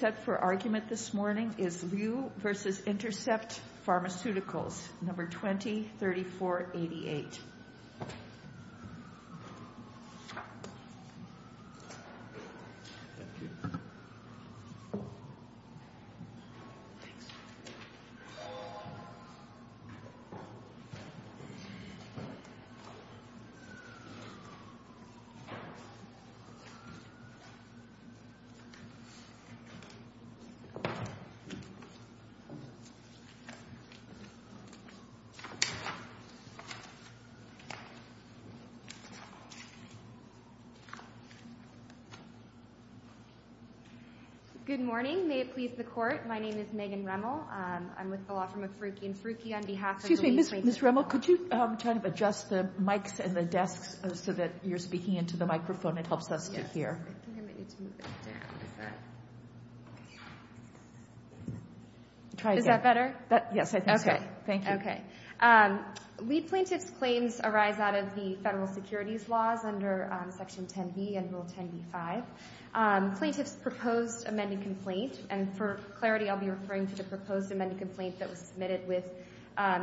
Set for argument this morning is Liu v. Intercept Pharmaceuticals, No. 20-3488. Good morning. May it please the Court, my name is Megan Rimmel. I'm with the law firm of Frucchi & Frucchi on behalf of the Louise Bacon Law Firm. Excuse me, Ms. Rimmel, could you try to adjust the mics and the desks so that you're speaking into the microphone? It helps us to hear. Is that better? Yes, I think so. Okay. Thank you. Okay. Lead plaintiff's claims arise out of the federal securities laws under Section 10b and Rule 10b-5. Plaintiff's proposed amended complaint, and for clarity I'll be referring to the proposed amended complaint that was submitted with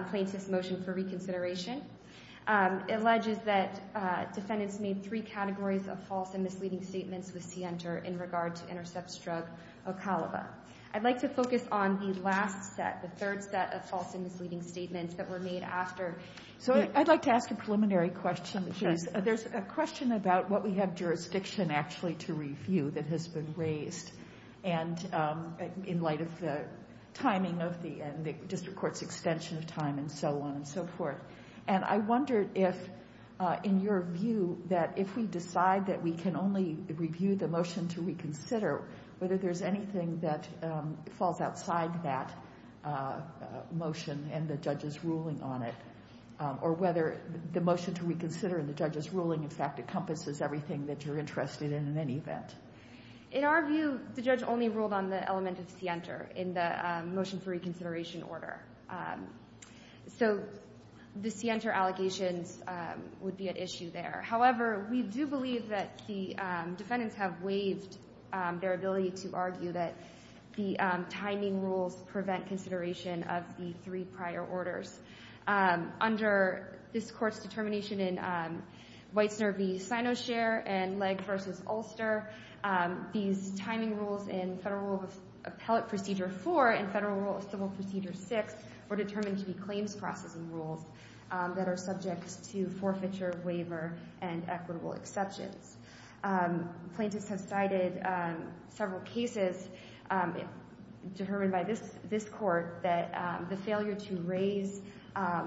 plaintiff's motion for reconsideration, alleges that defendants made three categories of false and misleading statements with Sienter in regard to Intercept's drug Ocalava. I'd like to focus on the last set, the third set of false and misleading statements that were made after. So I'd like to ask a preliminary question, please. There's a question about what we have jurisdiction actually to review that has been raised, and in light of the timing of the District Court's extension of time and so on and so forth. And I wondered if, in your view, that if we decide that we can only review the motion to reconsider, whether there's anything that falls outside that motion and the judge's ruling on it, or whether the motion to reconsider and the judge's ruling, in fact, encompasses everything that you're interested in, in any event. In our view, the judge only ruled on the element of Sienter in the motion for reconsideration order. So the Sienter allegations would be at issue there. However, we do believe that the defendants have waived their ability to argue that the timing rules prevent consideration of the three prior orders. Under this Court's determination in Weitzner v. Sinoshare and Legg v. Ulster, these timing rules in federal rule of appellate procedure 4 and federal rule of civil procedure 6 were determined to be claims processing rules that are subject to forfeiture, waiver, and equitable exceptions. Plaintiffs have cited several cases determined by this Court that the failure to raise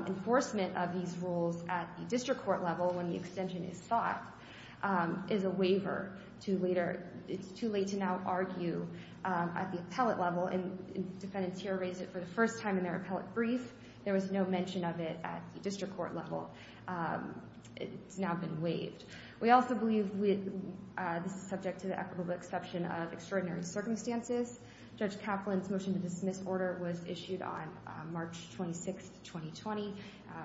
enforcement of these rules at the District Court level when the extension is sought is a waiver to later, it's too late to now argue at the appellate level, and defendants here raised it for the first time in their appellate brief. There was no mention of it at the District Court level. It's now been waived. We also believe this is subject to the equitable exception of extraordinary circumstances. Judge Kaplan's motion to dismiss order was issued on March 26, 2020. I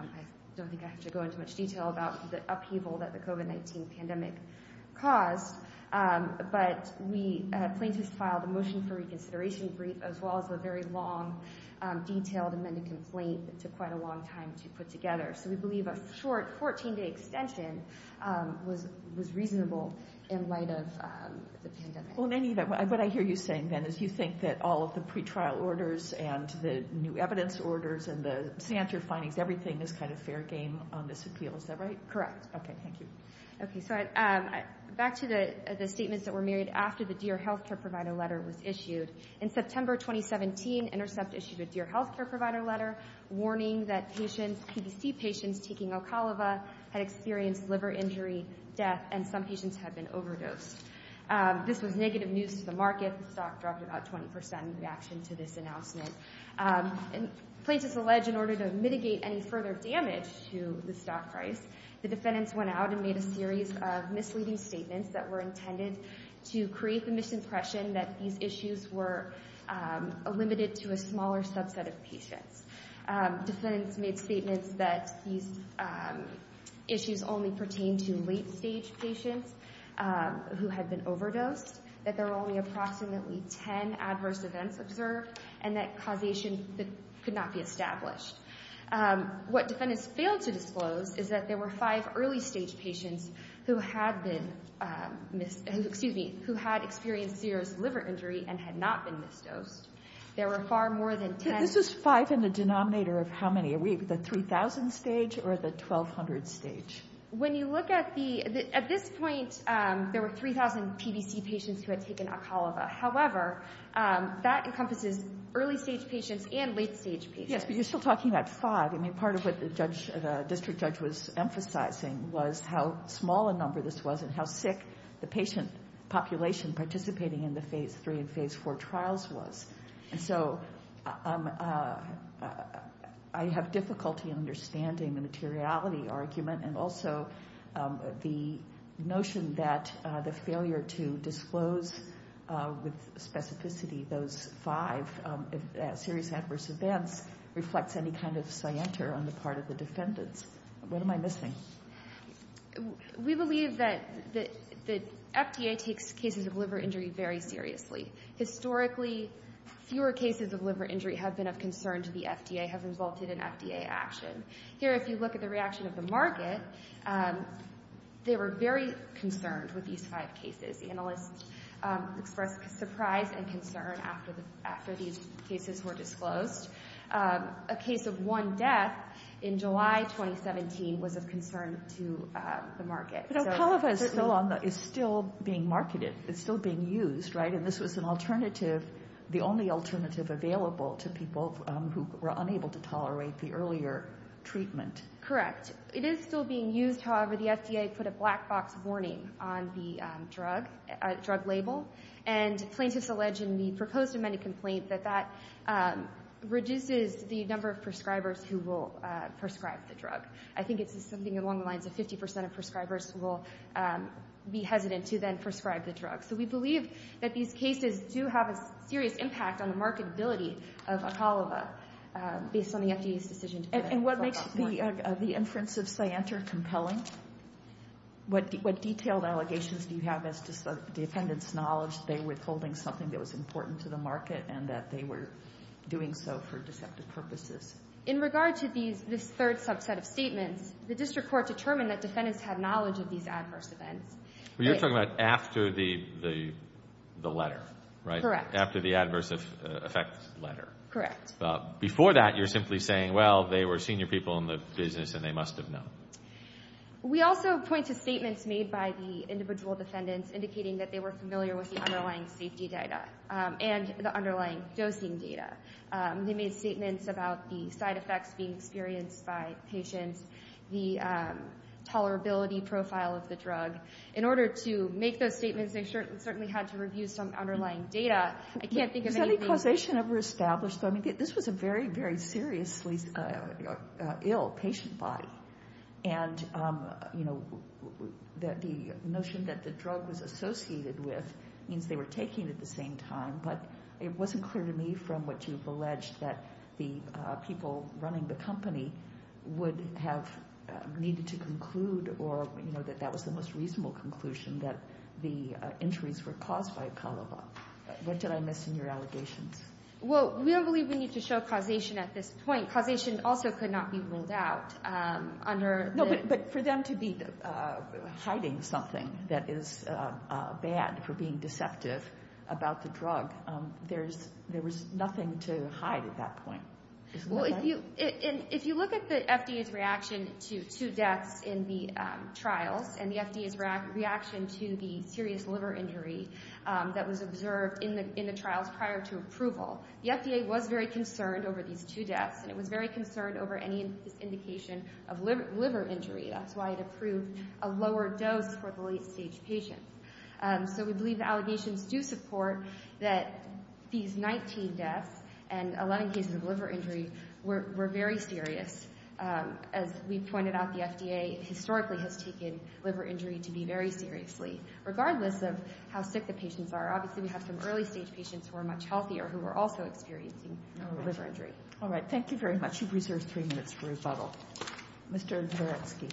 don't think I have to go into much detail about the upheaval that the COVID-19 pandemic caused, but plaintiffs filed a motion for reconsideration brief as well as a very long detailed amended complaint that took quite a long time to put together. So we believe a short 14-day extension was reasonable in light of the pandemic. Well, in any event, what I hear you saying, then, is you think that all of the pretrial orders and the new evidence orders and the standard findings, everything is kind of fair game on this appeal. Is that right? Correct. Okay. Thank you. Okay. So back to the statements that were made after the Dear Health Care Provider letter was issued. In September 2017, Intercept issued a Dear Health Care Provider letter warning that patients, PBC patients taking Alcolava had experienced liver injury, death, and some patients had been overdosed. This was negative news to the market. The stock dropped about 20% in reaction to this announcement. And plaintiffs allege in order to mitigate any further damage to the stock price, the defendants went out and made a series of misleading statements that were intended to create the misimpression that these issues were limited to a smaller subset of patients. Defendants made statements that these issues only pertain to late-stage patients who had been overdosed, that there were only approximately 10 adverse events observed, and that causation could not be established. What defendants failed to disclose is that there were five early-stage patients who had been, excuse me, who had experienced serious liver injury and had not been misdosed. There were far more than 10. This is five in the denominator of how many? Are we at the 3,000 stage or the 1,200 stage? When you look at the, at this point, there were 3,000 PBC patients who had taken Alcolava. However, that encompasses early-stage patients and late-stage patients. Yes, but you're still talking about five. I mean, part of what the judge, the district judge was emphasizing was how small a number this was and how sick the patient population participating in the Phase III and Phase IV trials was. And so I have difficulty understanding the materiality of the argument and also the notion that the failure to disclose with specificity those five serious adverse events reflects any kind of scienter on the part of the defendants. What am I missing? We believe that the FDA takes cases of liver injury very seriously. Historically, fewer cases of liver injury have been of concern to the FDA, have resulted in FDA action. Here, if you look at the reaction of the market, they were very concerned with these five cases. Analysts expressed surprise and concern after these cases were disclosed. A case of one death in July 2017 was of concern to the market. But Alcolava is still being marketed. It's still being used, right? And this was an alternative, the only alternative available to people who were unable to tolerate the earlier treatment. Correct. It is still being used. However, the FDA put a black box warning on the drug label. And plaintiffs allege in the proposed amended complaint that that reduces the number of prescribers who will prescribe the drug. I think it's something along the lines of 50% of prescribers will be hesitant to then prescribe the drug. So we believe that these cases do have a serious impact on the marketability of Alcolava based on the FDA's decision to put a black box warning. And what makes the inference of Cyanter compelling? What detailed allegations do you have as to defendant's knowledge that they were withholding something that was important to the market and that they were doing so for deceptive purposes? In regard to this third subset of statements, the district court determined that defendants had knowledge of these adverse events. You're talking about after the letter, right? Correct. After the adverse effects letter. Correct. Before that, you're simply saying, well, they were senior people in the business and they must have known. We also point to statements made by the individual defendants indicating that they were familiar with the underlying safety data and the underlying dosing data. They made statements about the side effects being experienced by patients, the tolerability profile of the drug. In order to make those statements, they certainly had to review some underlying data. I can't think of anything... Was any causation ever established? I mean, this was a very, very seriously ill patient body. And, you know, the notion that the drug was associated with means they were taking it at the same time. But it wasn't clear to me from what you've alleged that the people running the company would have needed to conclude or, you know, that that was the most reasonable conclusion, that the injuries were caused by Calava. What did I miss in your allegations? Well, we don't believe we need to show causation at this point. Causation also could not be ruled out under... No, but for them to be hiding something that is bad for being deceptive about the drug, there was nothing to hide at that point. Well, if you look at the FDA's reaction to two deaths in the trials and the FDA's reaction to the serious liver injury that was observed in the trials prior to approval, the FDA was very concerned over these two deaths and it was very concerned over any indication of liver injury. That's why it approved a lower dose for the late-stage patients. So we believe the allegations do support that these 19 deaths and 11 cases of liver injury were very serious. As we pointed out, the FDA historically has taken liver injury to be very seriously. Regardless of how sick the patients are, obviously we have some early-stage patients who are much healthier who are also experiencing liver injury. All right. Thank you very much. You've reserved three minutes for rebuttal. Mr. Boretsky.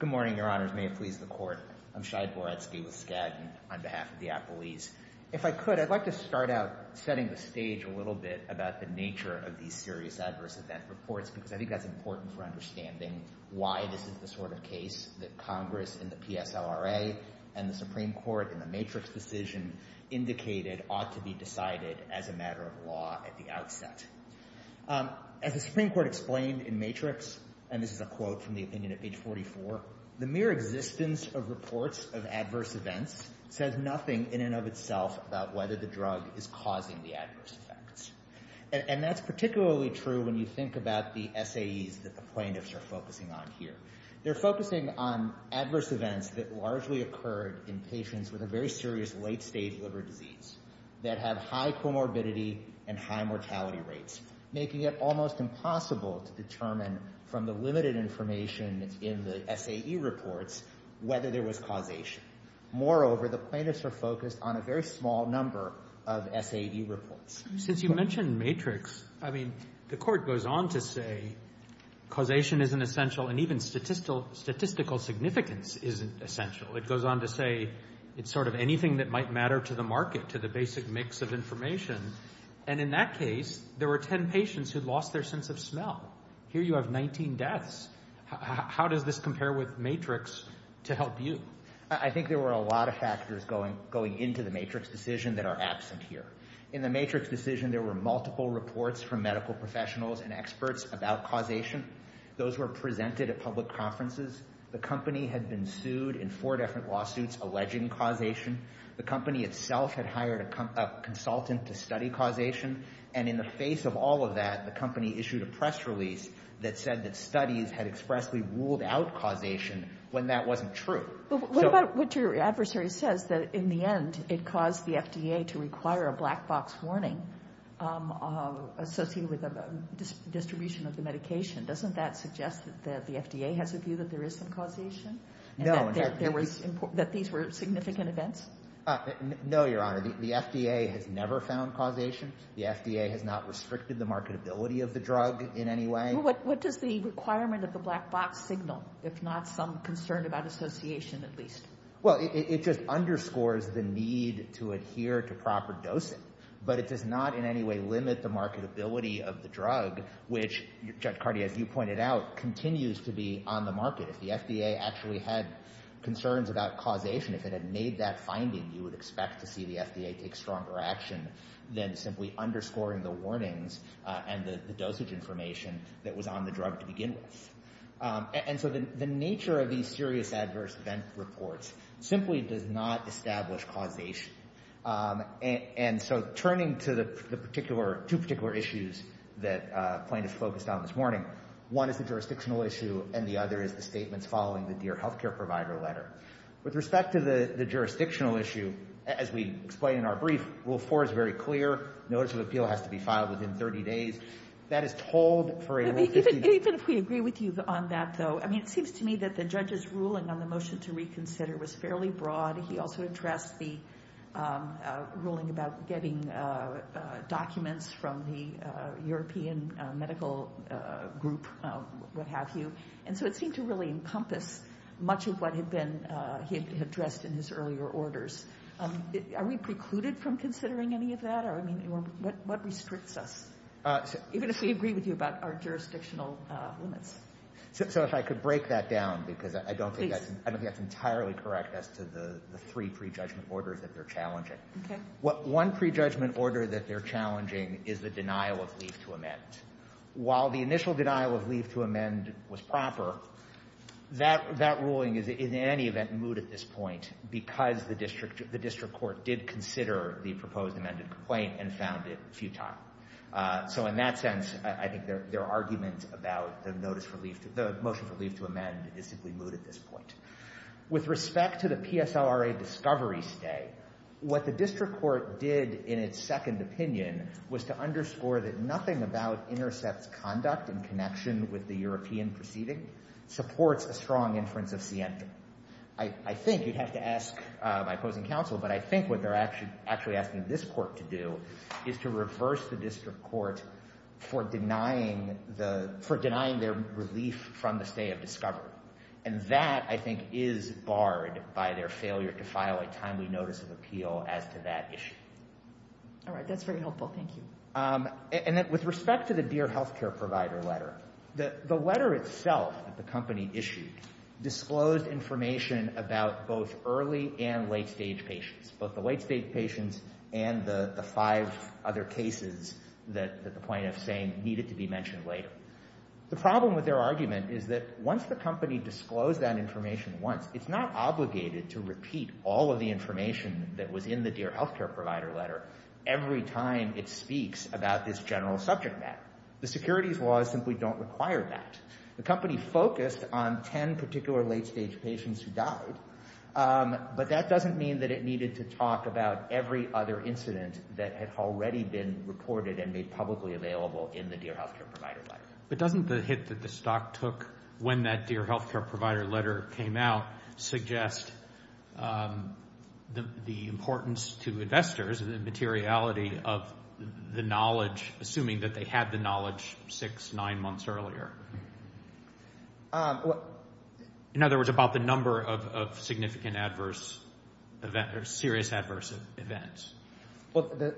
Good morning, Your Honors. May it please the Court. I'm Shai Boretsky with Skadden on behalf of the apologies. If I could, I'd like to start out setting the stage a little bit about the nature of these serious adverse event reports because I think that's important for understanding why this is the sort of case that Congress in the PSLRA and the Supreme Court in the Matrix decision indicated ought to be decided as a matter of law at the outset. As the Supreme Court explained in Matrix, and this is a quote from the opinion of page 44, the mere existence of reports of adverse events says nothing in and of itself about whether the drug is causing the adverse effects. And that's particularly true when you think about the SAEs that the plaintiffs are focusing on here. They're focusing on adverse events that largely occurred in patients with a very serious late-stage liver disease that have high comorbidity and high mortality rates, making it almost impossible to determine from the limited information in the SAE reports whether there was causation. Moreover, the plaintiffs are focused on a very small number of SAE reports. Since you mentioned Matrix, I mean, the Court goes on to say causation isn't essential and even statistical significance isn't essential. It goes on to say it's sort of anything that might matter to the market, to the basic mix of information. And in that case, there were 10 patients who lost their sense of smell. Here you have 19 deaths. How does this compare with Matrix to help you? I think there were a lot of factors going into the Matrix decision that are absent here. In the Matrix decision, there were multiple reports from medical professionals and experts about causation. Those were presented at public conferences. The company had been sued in four different lawsuits alleging causation. The company itself had hired a consultant to study causation. And in the face of all of that, the company issued a press release that said that studies had expressly ruled out causation when that wasn't true. What about what your adversary says, that in the end, it caused the FDA to require a black box warning associated with the distribution of the medication? Doesn't that suggest that the FDA has a view that there is some causation? No. That these were significant events? No, Your Honor. The FDA has never found causation. The FDA has not restricted the marketability of the drug in any way. What does the requirement of the black box signal, if not some concern about association at least? Well, it just underscores the need to adhere to proper dosing. But it does not in any way limit the marketability of the drug, which, Judge Cardi, as you pointed out, continues to be on the market. If the FDA actually had concerns about causation, if it had made that finding, you would expect to see the FDA take stronger action than simply underscoring the warnings and the dosage information that was on the drug to begin with. And so the nature of these serious adverse event reports simply does not establish causation. And so turning to the two particular issues that plaintiffs focused on this morning, one is the jurisdictional issue and the other is the statements following the Dear Healthcare Provider letter. With respect to the jurisdictional issue, as we explained in our brief, Rule 4 is very clear. Notice of appeal has to be filed within 30 days. That is told for Rule 15. Even if we agree with you on that, though, it seems to me that the judge's ruling on the motion to reconsider was fairly broad. He also addressed the ruling about getting documents from the European Medical Group, what have you. And so it seemed to really encompass much of what had been addressed in his earlier orders. Are we precluded from considering any of that? I mean, what restricts us, even if we agree with you about our jurisdictional limits? So if I could break that down, because I don't think that's entirely correct as to the three prejudgment orders that they're challenging. Okay. One prejudgment order that they're challenging is the denial of leave to amend. While the initial denial of leave to amend was proper, that ruling is in any event moot at this point because the district court did consider the proposed amended complaint and found it futile. So in that sense, I think their argument about the motion for leave to amend is simply moot at this point. With respect to the PSLRA discovery stay, what the district court did in its second opinion was to underscore that nothing about Intercept's conduct in connection with the European proceeding supports a strong inference of scienta. I think you'd have to ask my opposing counsel, but I think what they're actually asking this court to do is to reverse the district court for denying their relief from the stay of discovery. And that, I think, is barred by their failure to file a timely notice of appeal as to that issue. All right. That's very helpful. Thank you. And with respect to the Dear Healthcare Provider letter, the letter itself that the company issued disclosed information about both early and late-stage patients, both the late-stage patients and the five other cases that the plaintiff's saying needed to be mentioned later. The problem with their argument is that once the company disclosed that information once, it's not obligated to repeat all of the information that was in the Dear Healthcare Provider letter every time it speaks about this general subject matter. The securities laws simply don't require that. The company focused on ten particular late-stage patients who died, but that doesn't mean that it needed to talk about every other incident that had already been reported and made publicly available in the Dear Healthcare Provider letter. But doesn't the hit that the stock took when that Dear Healthcare Provider letter came out suggest the importance to investors and the materiality of the knowledge, assuming that they had the knowledge six, nine months earlier? In other words, about the number of significant adverse events or serious adverse events. However,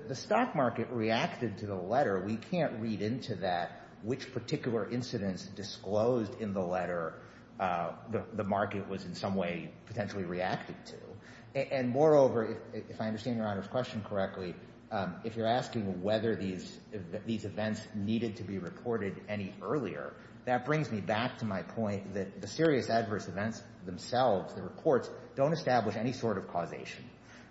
we can't read into that which particular incidents disclosed in the letter the market was in some way potentially reacting to. And moreover, if I understand Your Honor's question correctly, if you're asking whether these events needed to be reported any earlier, that brings me back to my point that the serious adverse events themselves, the reports, don't establish any sort of causation.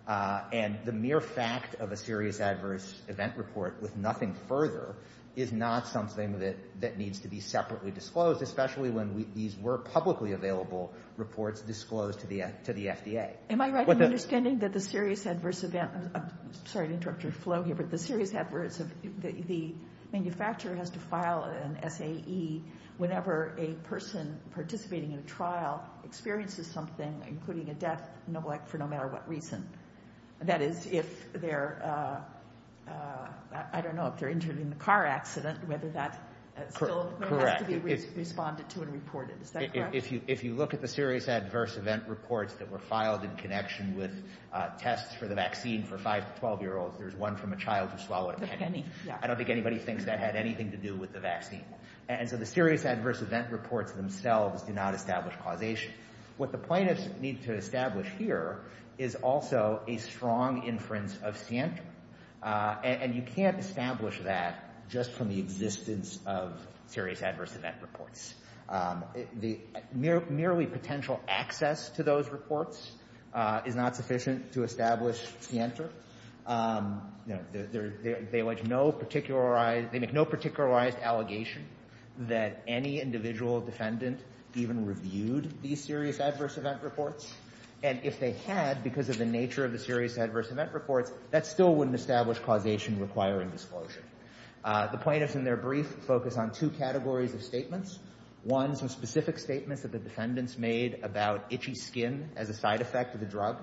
And the mere fact of a serious adverse event report with nothing further is not something that needs to be separately disclosed, especially when these were publicly available reports disclosed to the FDA. Am I right in understanding that the serious adverse event, I'm sorry to interrupt your flow here, but the serious adverse, the manufacturer has to file an SAE whenever a person participating in a trial experiences something, including a death for no matter what reason. That is, if they're, I don't know, if they're injured in a car accident, whether that still has to be responded to and reported. Is that correct? Correct. If you look at the serious adverse event reports that were filed in connection with tests for the vaccine for 5 to 12-year-olds, there's one from a child who swallowed a penny. I don't think anybody thinks that had anything to do with the vaccine. And so the serious adverse event reports themselves do not establish causation. What the plaintiffs need to establish here is also a strong inference of scienter. And you can't establish that just from the existence of serious adverse event reports. Merely potential access to those reports is not sufficient to establish scienter. They make no particularized allegation that any individual defendant even reviewed these serious adverse event reports. And if they had, because of the nature of the serious adverse event reports, that still wouldn't establish causation requiring disclosure. The plaintiffs in their brief focus on two categories of statements. One, some specific statements that the defendants made about itchy skin as a side effect of the drug.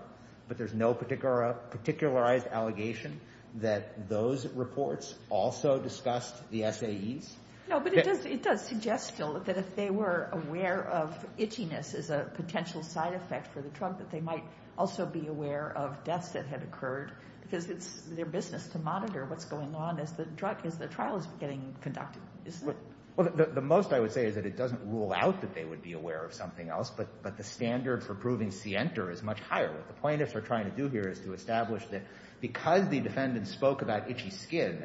But there's no particularized allegation that those reports also discussed the SAEs. No, but it does suggest still that if they were aware of itchiness as a potential side effect for the drug, that they might also be aware of deaths that had occurred. Because it's their business to monitor what's going on as the trial is getting conducted, isn't it? Well, the most I would say is that it doesn't rule out that they would be aware of something else. But the standard for proving scienter is much higher. What the plaintiffs are trying to do here is to establish that because the defendant spoke about itchy skin,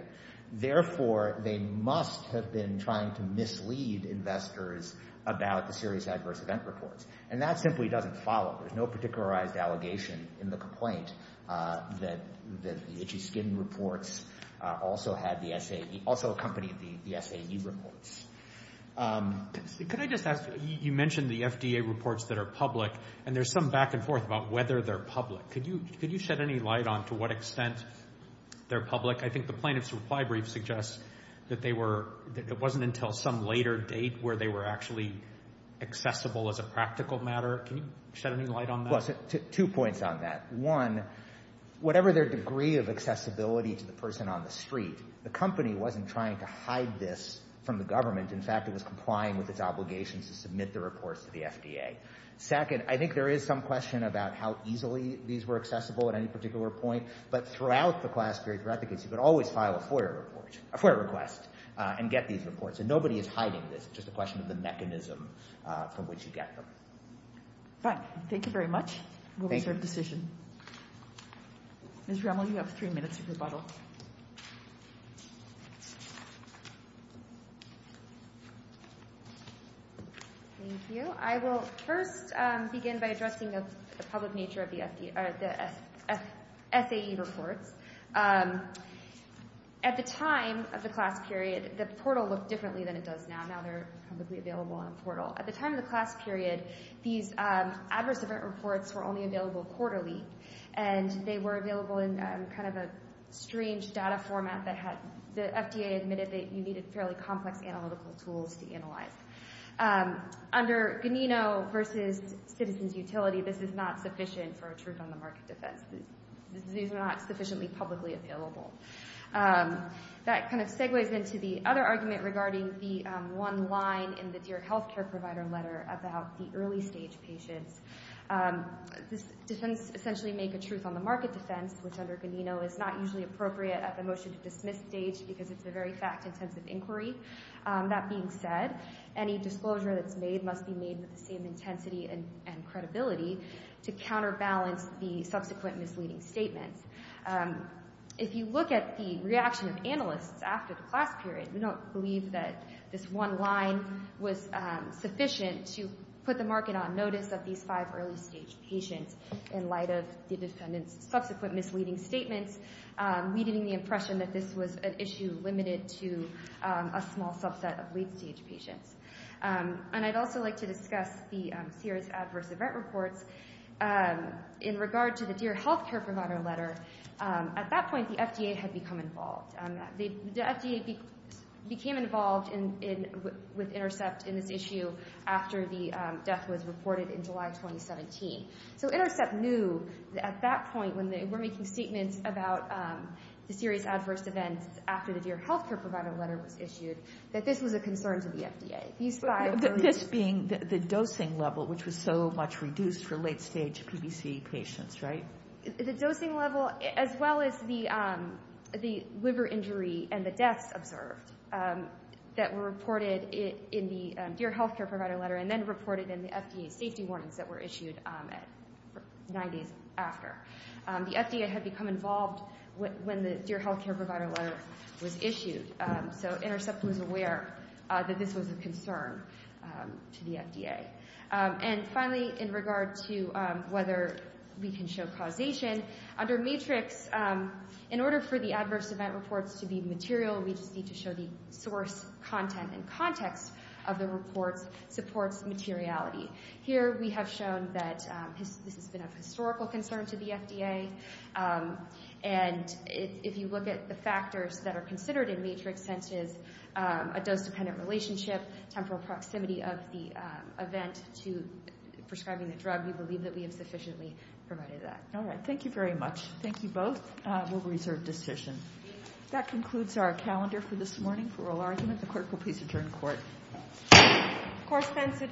therefore they must have been trying to mislead investors about the serious adverse event reports. And that simply doesn't follow. There's no particularized allegation in the complaint that the itchy skin reports also accompanied the SAE reports. Could I just ask, you mentioned the FDA reports that are public, and there's some back and forth about whether they're public. Could you shed any light on to what extent they're public? I think the plaintiff's reply brief suggests that it wasn't until some later date where they were actually accessible as a practical matter. Can you shed any light on that? Two points on that. One, whatever their degree of accessibility to the person on the street, the company wasn't trying to hide this from the government. In fact, it was complying with its obligations to submit the reports to the FDA. Second, I think there is some question about how easily these were accessible at any particular point. But throughout the class period for efficacy, you could always file a FOIA report, a FOIA request, and get these reports. And nobody is hiding this. It's just a question of the mechanism from which you get them. Fine. Thank you very much. Thank you. We'll reserve decision. Ms. Remmel, you have three minutes of rebuttal. Thank you. I will first begin by addressing the public nature of the SAE reports. At the time of the class period, the portal looked differently than it does now. Now they're publicly available on portal. At the time of the class period, these adverse event reports were only available quarterly, and they were available in kind of a strange data format that had the FDA admitted that you needed fairly complex analytical tools to analyze. Under Ganino versus citizens' utility, this is not sufficient for a truth on the market defense. These are not sufficiently publicly available. That kind of segues into the other argument regarding the one line in the dear health care provider letter about the early stage patients. This defense essentially make a truth on the market defense, which under Ganino is not usually appropriate at the motion to dismiss stage because it's a very fact-intensive inquiry. That being said, any disclosure that's made must be made with the same intensity and credibility to counterbalance the subsequent misleading statements. If you look at the reaction of analysts after the class period, we don't believe that this one line was sufficient to put the market on notice of these five early stage patients in light of the defendant's subsequent misleading statements, leaving the impression that this was an issue limited to a small subset of late stage patients. And I'd also like to discuss the serious adverse event reports. In regard to the dear health care provider letter, at that point the FDA had become involved. The FDA became involved with Intercept in this issue after the death was reported in July 2017. So Intercept knew at that point when they were making statements about the serious adverse events after the dear health care provider letter was issued that this was a concern to the FDA. This being the dosing level, which was so much reduced for late stage PBC patients, right? The dosing level as well as the liver injury and the deaths observed that were reported in the dear health care provider letter and then reported in the FDA safety warnings that were issued nine days after. The FDA had become involved when the dear health care provider letter was issued. So Intercept was aware that this was a concern to the FDA. And finally, in regard to whether we can show causation, under Matrix, in order for the adverse event reports to be material, we just need to show the source content and context of the reports supports materiality. Here we have shown that this has been a historical concern to the FDA. And if you look at the factors that are considered in Matrix, such as a dose-dependent relationship, temporal proximity of the event to prescribing the drug, we believe that we have sufficiently provided that. All right. Thank you very much. Thank you both. We'll reserve decisions. That concludes our calendar for this morning for oral argument. The clerk will please adjourn court. Court is adjourned. Court is adjourned.